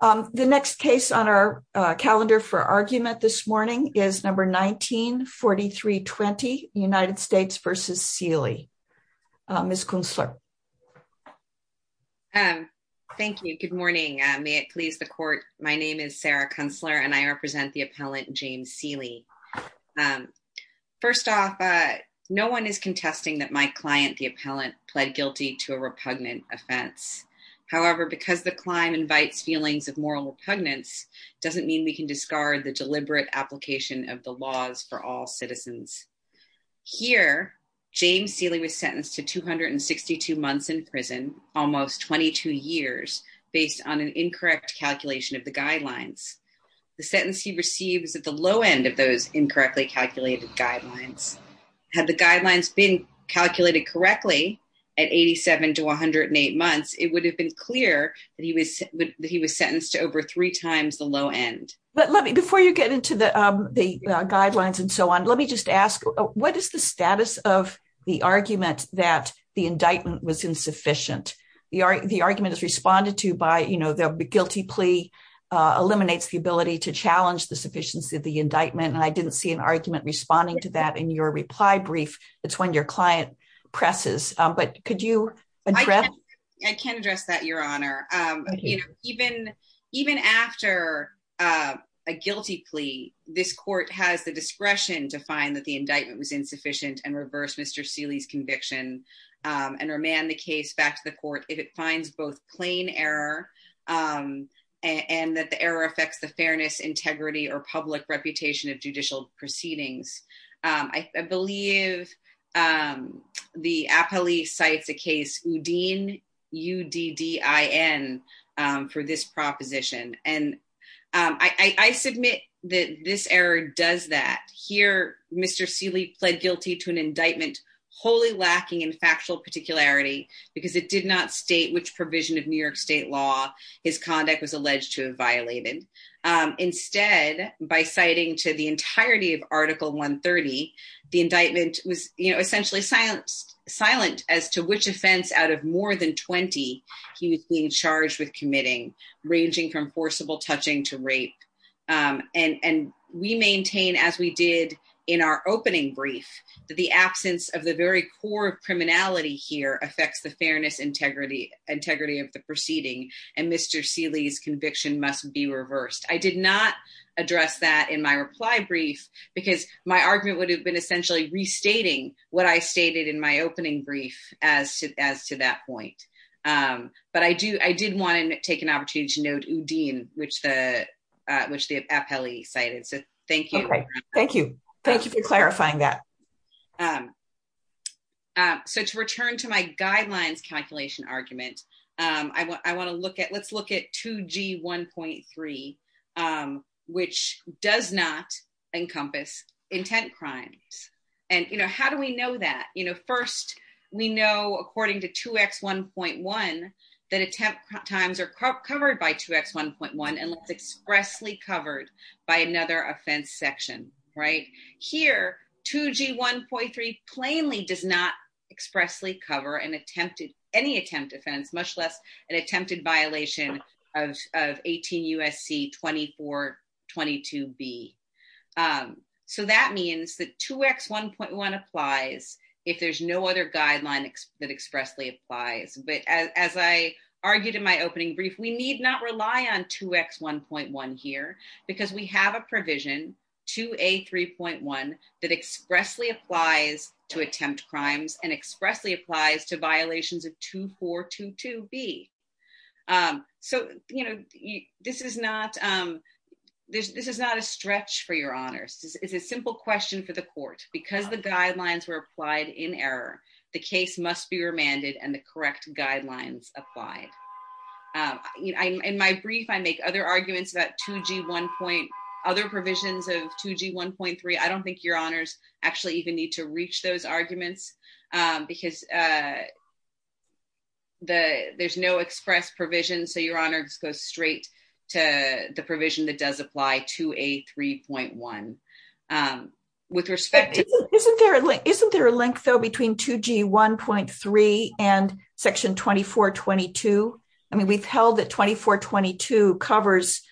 Um, the next case on our calendar for argument this morning is number 1943 20 United States v. Seeley. Ms. Kunstler. Thank you. Good morning. May it please the court, my name is Sarah Kunstler and I represent the appellant James Seeley. First off, no one is contesting that my client, the appellant, pled guilty to a repugnant offense. However, because the client invites feelings of moral repugnance, doesn't mean we can discard the deliberate application of the laws for all citizens. Here, James Seeley was sentenced to 262 months in prison, almost 22 years, based on an incorrect calculation of the guidelines. The sentence he receives at the low end of those incorrectly calculated guidelines. Had the guidelines been calculated correctly at 87 to 108 months, it would have been clear that he was, that he was sentenced to over three times the low end. But let me, before you get into the, um, the guidelines and so on, let me just ask, what is the status of the argument that the indictment was insufficient? The argument is responded to by, you know, the guilty plea, uh, eliminates the ability to challenge the indictment. And I didn't see an argument responding to that in your reply brief. That's when your client presses. Um, but could you address, I can address that your honor. Um, you know, even, even after, uh, a guilty plea, this court has the discretion to find that the indictment was insufficient and reverse Mr. Seeley's conviction, um, and remand the case back to the court. If it finds both plain error, um, and that the error affects the public reputation of judicial proceedings. Um, I, I believe, um, the APLEE cites a case UDIN, U D D I N, um, for this proposition. And, um, I, I, I submit that this error does that here. Mr. Seeley pled guilty to an indictment wholly lacking in factual particularity because it did not state which provision of New York state law his conduct was alleged to have violated. Um, instead by citing to the entirety of article one 30, the indictment was essentially silence silent as to which offense out of more than 20, he was being charged with committing ranging from forcible touching to rape. Um, and, and we maintain as we did in our opening brief, that the absence of the very core of criminality here affects the fairness, integrity, integrity of the proceeding. And Mr. Seeley's conviction must be reversed. I did not address that in my reply brief because my argument would have been essentially restating what I stated in my opening brief as to, as to that point. Um, but I do, I did want to take an opportunity to note UDIN, which the, uh, which the APLEE cited. So thank you. Thank you. Thank you for clarifying that. Um, um, so to return to my guidelines calculation argument, um, I w I want to look at, let's look at two G 1.3, um, which does not encompass intent crimes. And, you know, how do we know that, you know, first we know, according to two X 1.1, that attempt times are covered by two X 1.1 and it's expressly covered by another offense section, right here, two G 1.3, plainly does not expressly cover and attempted any attempt offense, much less an attempted violation of, of 18 USC 24, 22 B. Um, so that means that two X 1.1 applies if there's no other guidelines that expressly applies. But as, as I argued in my opening brief, we need not rely on two X 1.1 here because we have a provision to a 3.1 that expressly applies to attempt crimes and expressly applies to violations of two, four, two, two B. Um, so, you know, this is not, um, there's, this is not a stretch for your honors. It's a simple question for the court because the correct guidelines applied, um, in my brief, I make other arguments about two G one point other provisions of two G 1.3. I don't think your honors actually even need to reach those arguments, um, because, uh, the, there's no express provision. So your honors goes straight to the provision that does apply to a 3.1, um, with respect. Isn't there a link, isn't there two G 1.3 and section 24, 22? I mean, we've held that 24, 22 covers,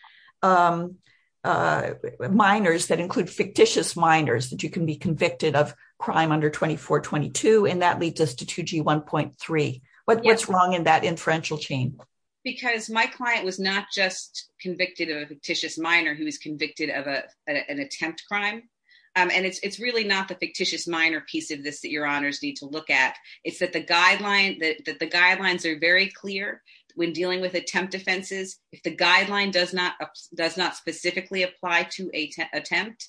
um, uh, minors that include fictitious minors that you can be convicted of crime under 24, 22. And that leads us to two G 1.3. What's wrong in that inferential chain? Because my client was not just convicted of a fictitious minor who was convicted of a, an attempt crime. Um, and it's, really not the fictitious minor piece of this that your honors need to look at. It's that the guideline that the guidelines are very clear when dealing with attempt offenses. If the guideline does not, does not specifically apply to a attempt,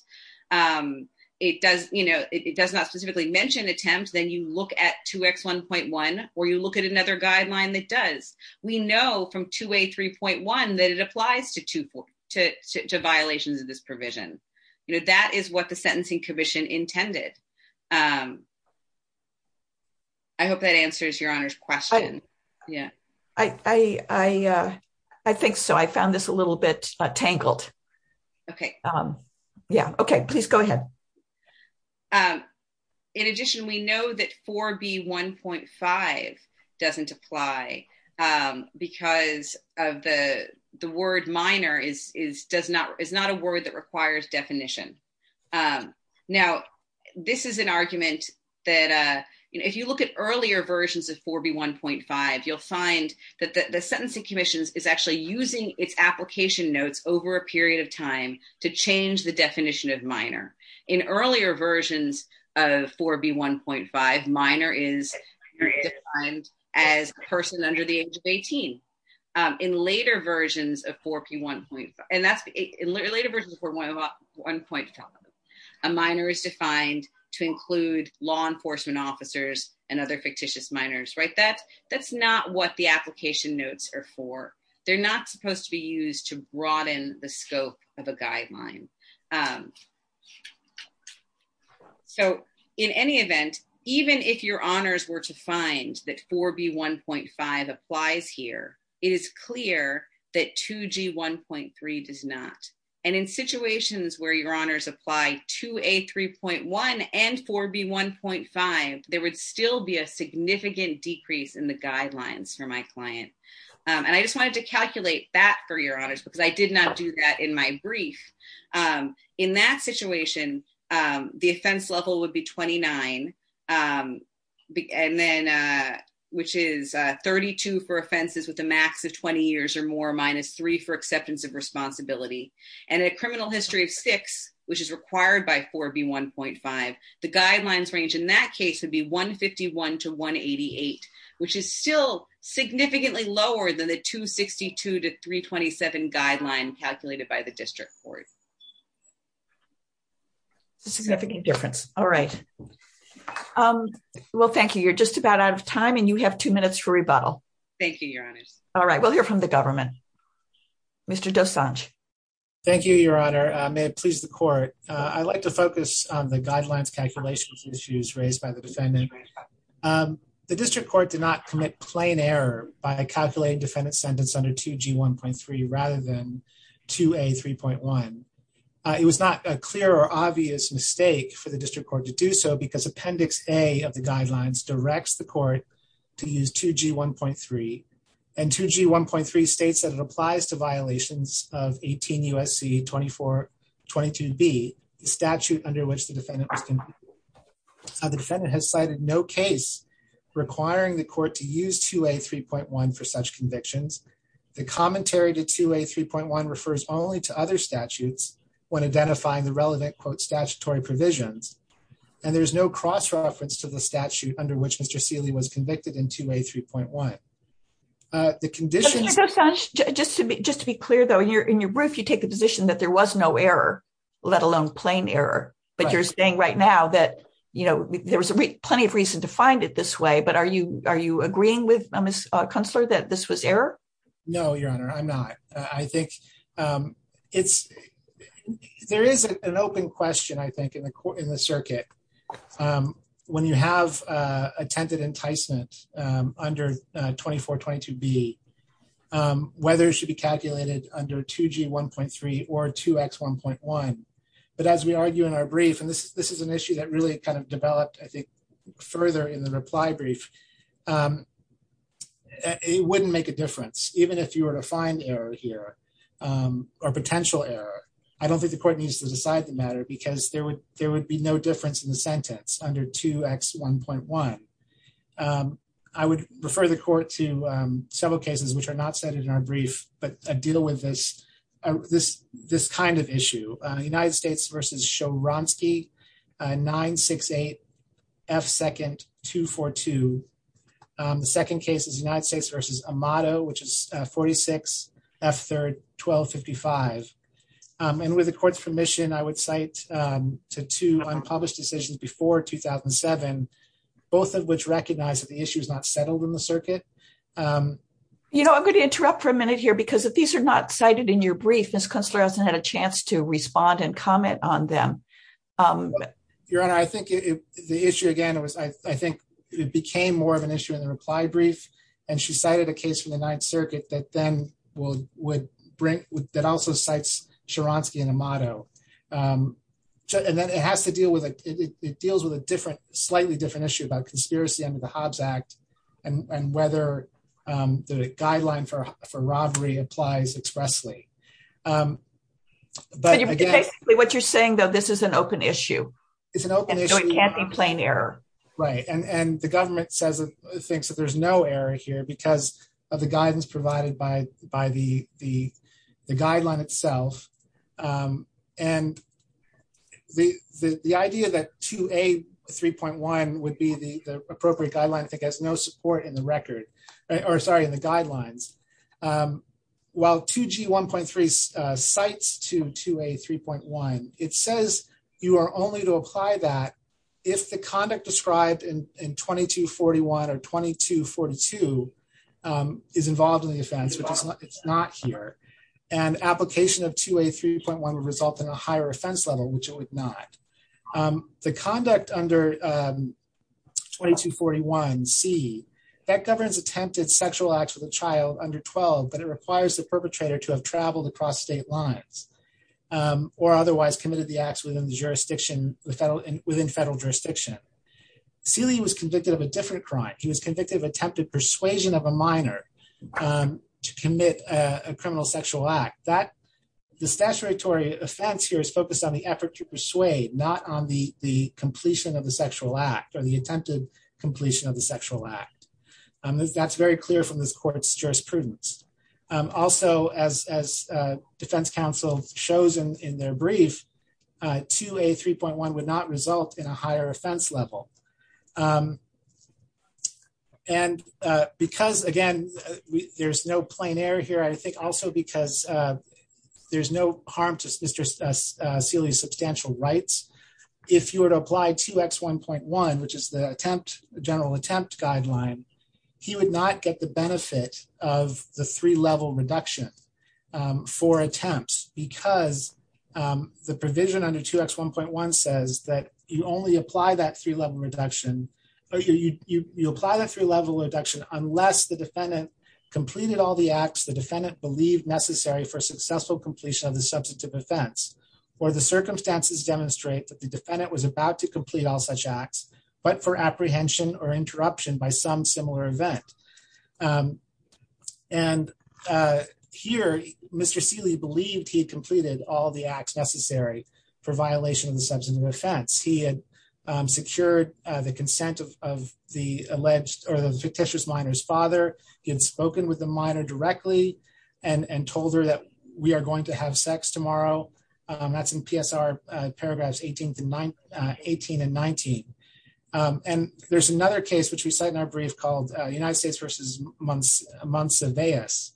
um, it does, you know, it does not specifically mention attempts. Then you look at two X 1.1, or you look at another guideline that does, we know from two way 3.1, that it applies to two to two violations of this provision. You know, that is what the sentencing commission intended. Um, I hope that answers your honors question. Yeah, I, I, uh, I think so. I found this a little bit tangled. Okay. Um, yeah. Okay. Please go ahead. Um, in addition, we know that four B 1.5 doesn't apply, um, because of the, the word minor is, is, does not, is not a word that requires definition. Um, now this is an argument that, uh, you know, if you look at earlier versions of four B 1.5, you'll find that the sentencing commissions is actually using its application notes over a period of time to change the definition of minor in earlier versions of four B 1.5 minor is defined as a person under the age of 18, um, in later versions of four P 1.5. And that's later versions of one point. A minor is defined to include law enforcement officers and other fictitious minors, right? That that's not what the application notes are for. They're not supposed to be used to broaden the scope of a guideline. Um, so in any event, even if your honors were to find that four B 1.5 applies here, it is clear that two G 1.3 does not. And in situations where your honors apply to a 3.1 and four B 1.5, there would still be a significant decrease in the guidelines for my client. Um, and I just wanted to calculate that for your honors because did not do that in my brief. Um, in that situation, um, the offense level would be 29. Um, and then, uh, which is, uh, 32 for offenses with a max of 20 years or more minus three for acceptance of responsibility and a criminal history of six, which is required by four B 1.5. The guidelines range in that case would be 1 51 to 1 88, which is still significantly lower than the 2 62 to 3 27 guideline calculated by the district court. Significant difference. All right. Um, well, thank you. You're just about out of time, and you have two minutes for rebuttal. Thank you, Your Honor. All right, we'll hear from the government. Mr Dosanjh. Thank you, Your Honor. May it please the court. I'd like to focus on the guidelines calculations issues raised by the defendant. Um, the district court did not commit plain error by calculating defendant sentence under 2 G 1.3 rather than to a 3.1. It was not a clear or obvious mistake for the district court to do so, because Appendix A of the guidelines directs the court to use 2 G 1.3 and 2 G 1.3 states that it applies to violations of 18 U. S. C. 24 22 B statute under which the defendant. The defendant has cited no case requiring the court to use to a 3.1 for such convictions. The commentary to a 3.1 refers only to other statutes when identifying the relevant quote statutory provisions. And there's no cross reference to the statute under which Mr Sealy was convicted into a 3.1. The conditions just to just to be clear, though, you're in your roof. You take the position that there was no error, let alone plain error. But you're saying right now that, you know, there was plenty of reason to find it this way. But are you? Are you agreeing with Miss Consular that this was error? No, Your Honor, I'm not. I think, um, it's there is an open question, I think, in the court in the circuit. Um, when you have, uh, attempted enticement under 24 22 B, um, whether it should be calculated under 2 G 1.3 or 2 X 1.1. But as we argue in our brief, and this is this is an issue that really kind of developed, I think, further in the reply brief. Um, it wouldn't make a difference, even if you were to find error here, or potential error. I don't think the court needs to decide the matter because there would there would be no difference in the sentence under 2 X 1.1. I would refer the court to several cases which are not cited in our brief, but deal with this, this this kind of issue. United States versus show Ronski 968 F. Second 242. The second case is United States versus a motto, which is 46 F. 3rd 1255. And with the court's permission, I would cite to two unpublished decisions before 2007, both of which recognize that the issue is not settled in the circuit. You know, I'm going to interrupt for a minute here, because if these are not cited in your brief, this counselor hasn't had a chance to respond and comment on them. Your Honor, I think the issue again, it was, I think it became more of an issue in the reply brief. And she cited a case from the Ninth Circuit that then will would bring that also cites Sharansky in a motto. And then it has to deal with it deals with a different slightly different issue about conspiracy under the Hobbes Act, and whether the guideline for for robbery applies expressly. But you're basically what you're saying, though, this is an open issue. It's an open issue. It can't be plain error. Right. And the government says, thinks that there's no error here because of the guidance provided by the guideline itself. And the idea that 2A.3.1 would be the appropriate guideline that has no support in the record, or sorry, in the guidelines. While 2G.1.3 cites 2A.3.1, it says you are only to apply that if the conduct described in 2241 or 2242 is involved in the offense, which is not here. And application of 2A.3.1 would result in a higher offense level, which it would not. The conduct under 2241c, that governs attempted sexual acts with a child under 12, but it requires the perpetrator to have traveled across state lines or otherwise committed the acts within the jurisdiction within federal jurisdiction. Seeley was convicted of a different crime. He was convicted of attempted persuasion of a minor to commit a criminal sexual act. The statutory offense here is focused on the effort to persuade, not on the completion of the sexual act or the attempted completion of the sexual act. That's very clear from this court's jurisprudence. Also, as defense counsel shows in their brief, 2A.3.1 would not result in a higher offense level. And because, again, there's no plein air here, I think also because there's no harm to Mr. Seeley's substantial rights, if you were to apply 2X.1.1, which is the attempt, general attempt guideline, he would not get the benefit of the three-level reduction for attempts, because the provision under 2X.1.1 says that you only apply that three-level reduction, or you apply that three-level reduction unless the defendant completed all the acts the defendant believed necessary for successful completion of the substantive offense, or the circumstances demonstrate that the defendant was about to complete all such acts, but for apprehension or interruption by some similar event. And here, Mr. Seeley believed he had completed all the acts necessary for violation of the substantive offense. He had secured the consent of the alleged or the fictitious minor's father. He had spoken with the minor directly and told her that we are going to have sex tomorrow. That's in PSR paragraphs 18 and 19. And there's another case, which we cite in our brief, called United States v. Monsivais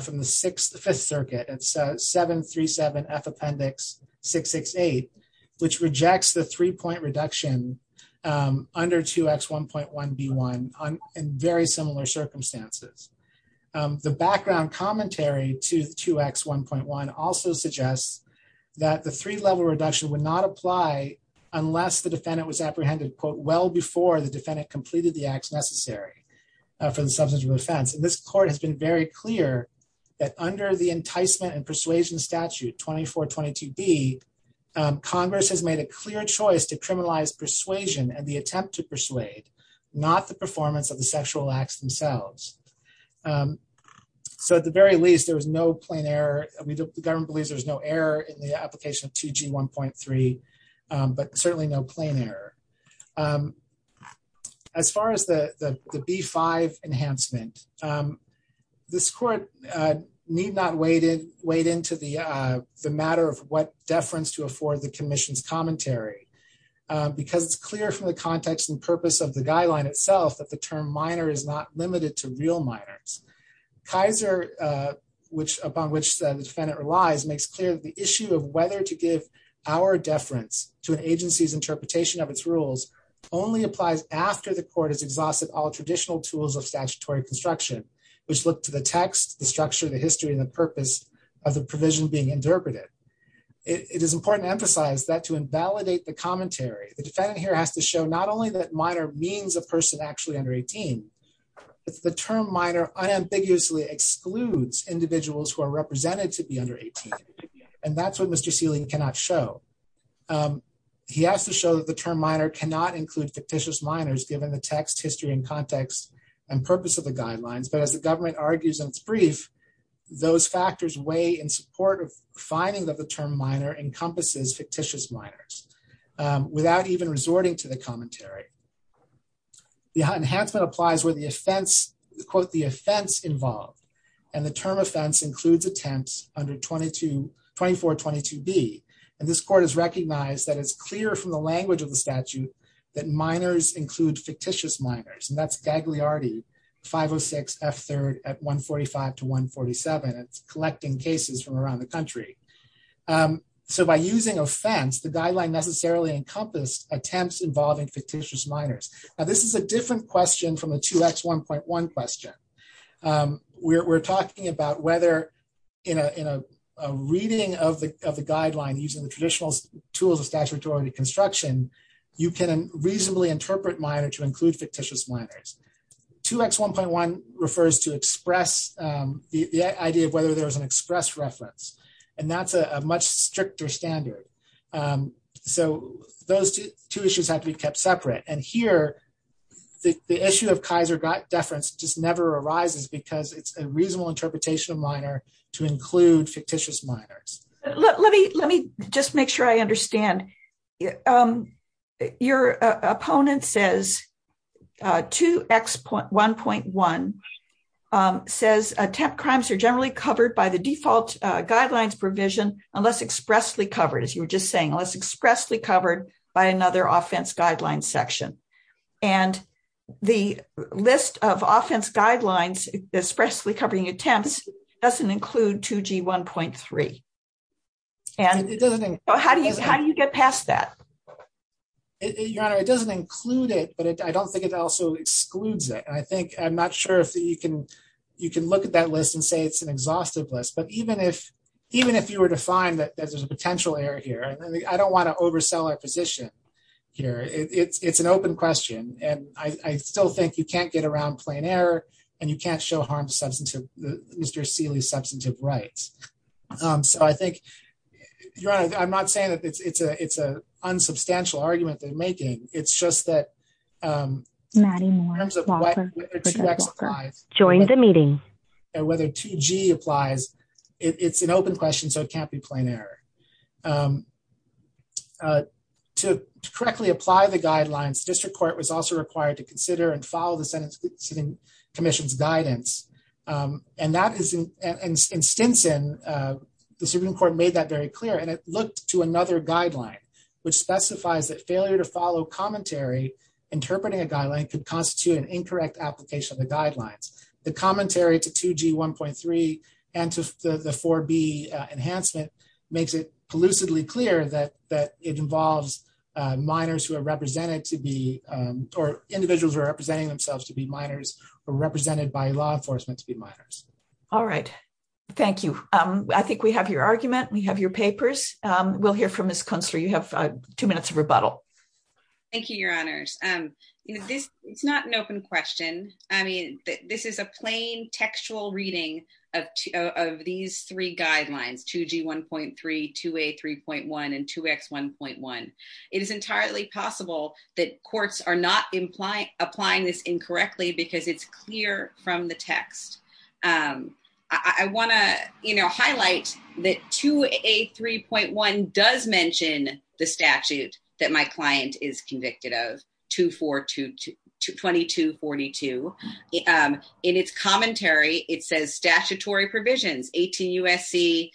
from the Fifth Circuit. It's 737F Appendix 668, which rejects the three-point reduction under 2X.1.1B1 in very similar circumstances. The background commentary to 2X.1.1 also suggests that the three-level reduction would not apply unless the defendant was apprehended, quote, well before the defendant completed the acts necessary for the substantive offense. And this court has been very clear that under the Enticement and Persuasion Statute 2422B, Congress has made a clear choice to criminalize persuasion and the offense. So, at the very least, there was no plain error. The government believes there's no error in the application of 2G1.3, but certainly no plain error. As far as the B-5 enhancement, this court need not wade into the matter of what deference to afford the commission's commentary because it's clear from the context and purpose of the guideline itself that the term minor is not limited to real minors. Kaiser, upon which the defendant relies, makes clear that the issue of whether to give our deference to an agency's interpretation of its rules only applies after the court has exhausted all traditional tools of statutory construction, which look to the text, the structure, the history, and the purpose of the provision being interpreted. It is important to emphasize that to invalidate the commentary, the defendant here has to show not only that minor means a person actually under 18, but the term minor unambiguously excludes individuals who are represented to be under 18, and that's what Mr. Seelig cannot show. He has to show that the term minor cannot include fictitious minors given the text, history, and context and purpose of the guidelines, but as the government argues in its brief, those factors weigh in support of finding that the term minor encompasses fictitious minors without even resorting to the commentary. The enhancement applies where the offense, quote, the offense involved, and the term offense includes attempts under 2422B, and this court has recognized that it's clear from the language of the statute that minors include fictitious minors, and that's Gagliardi 506 F3rd at 145 to 147. It's collecting cases from around the country. So by using offense, the guideline necessarily encompassed attempts involving fictitious minors. Now, this is a different question from the 2X1.1 question. We're talking about whether in a reading of the guideline using the traditional tools of statutory reconstruction, you can reasonably interpret minor to include fictitious minors. 2X1.1 refers to express the idea of whether there was an express reference, and that's a much stricter standard. So those two issues have to be kept separate, and here the issue of Kaiser deference just never arises because it's a reasonable interpretation of minor to include fictitious minors. Let me just make sure I understand. Your opponent says 2X1.1 says attempt crimes are generally covered by the default guidelines provision unless expressly covered, as you were just saying, unless expressly covered by another offense guideline section, and the list of offense guidelines expressly covering attempts doesn't include 2G1.3. How do you get past that? Your honor, it doesn't include it, but I don't think it also excludes it, and I'm not sure if you can look at that list and say it's an exhaustive list, but even if you were to find that there's a potential error here, I don't want to oversell our position here. It's an open question, and I still think you can't get around plain error, and you can't show harm to Mr. Seeley's substantive rights. So I think, your honor, I'm not saying that it's an unsubstantial argument they're making. It's just that in terms of whether 2X applies and whether 2G applies, it's an open question, so it can't be plain error. To correctly apply the guidelines, the district court was also required to consider and follow the sentencing commission's guidance, and Stinson, the Supreme Court, made that very clear, and it looked to another guideline, which specifies that failure to follow commentary interpreting a guideline could constitute an incorrect application of the guidelines. The commentary to 2G 1.3 and to the 4B enhancement makes it elusively clear that it involves minors who are represented to be, or individuals who are representing themselves to be minors or represented by law enforcement to be minors. All right. Thank you. I think we have your argument. We have your papers. We'll hear from Ms. Kunstler. You have two minutes of rebuttal. Thank you, your honors. You know, this is not an open question. I mean, this is a plain textual reading of these three guidelines, 2G 1.3, 2A 3.1, and 2X 1.1. It is entirely possible that courts are not applying this incorrectly because it's clear from the text. I want to, you know, highlight that 2A 3.1 does mention the statute that my client is convicted of, 2422, 2242. In its commentary, it says statutory provisions 18 U.S.C.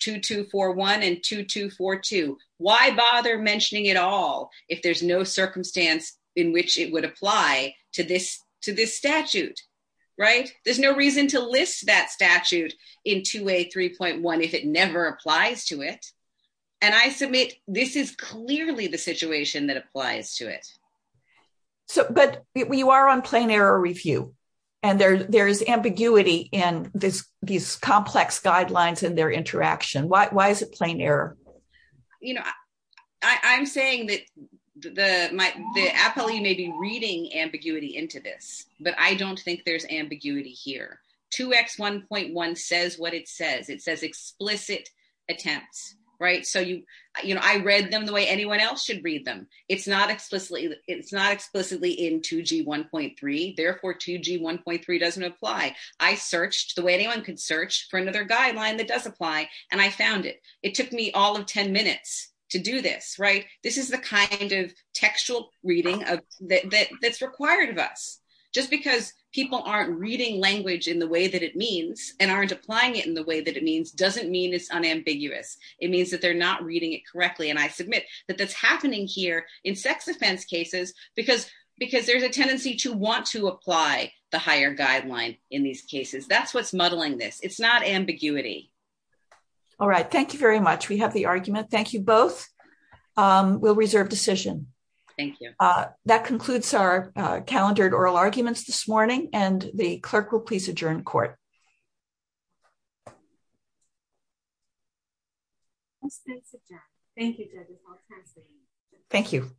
2241 and 2242. Why bother mentioning it all if there's no circumstance in which it would apply to this statute, right? There's no reason to list that statute in 2A 3.1 if it never applies to it. And I submit, this is clearly the situation that applies to it. So, but you are on plain error review, and there's ambiguity in these complex guidelines and their interaction. Why is it plain error? You know, I'm saying that the appellee may be reading ambiguity into this, but I don't think there's ambiguity here. 2X 1.1 says what it says. It says explicit attempts, right? So, you know, I read them the way anyone else should read them. It's not explicitly in 2G 1.3. Therefore, 2G 1.3 doesn't apply. I searched the way anyone could search for another guideline that does apply, and I found it. It took me all of 10 minutes to do this, right? This is the kind of textual reading that's required of us. Just because people aren't reading language in the way that it means and aren't applying it in the way that it means doesn't mean it's unambiguous. It means that they're not reading it correctly, and I submit that that's happening here in sex offense cases because there's a tendency to want to apply the higher guideline in these cases. That's what's muddling this. It's not unambiguous. We'll reserve decision. Thank you. That concludes our calendared oral arguments this morning, and the clerk will please adjourn court. Thank you, Debbie. Thank you. Thank you.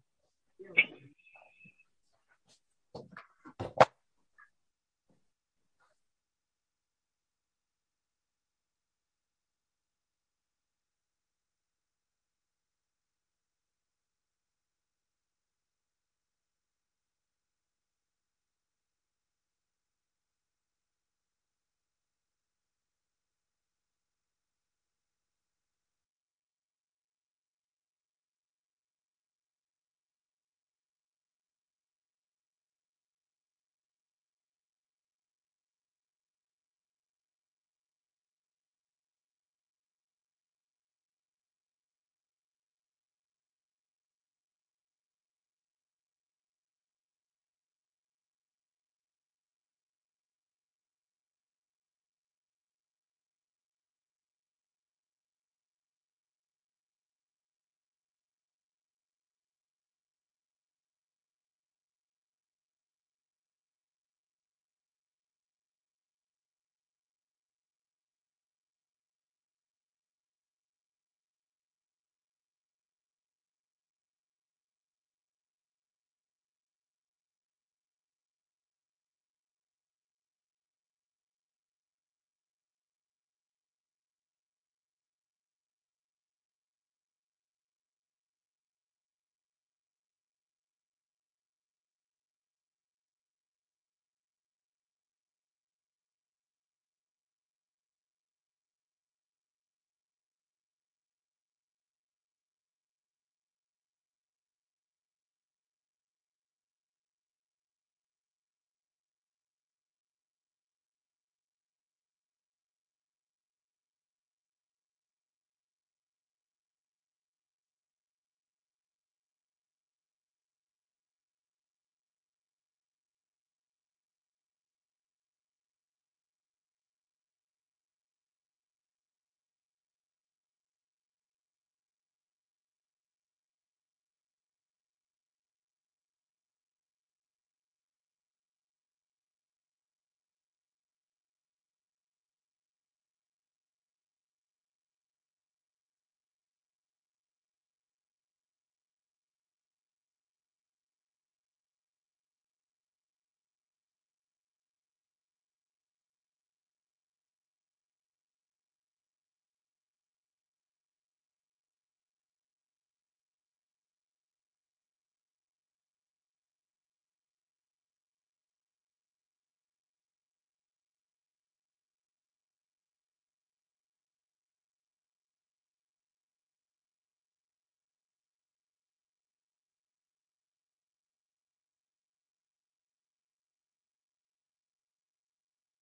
Thank you. Thank you. Thank you. Thank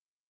you. Thank you.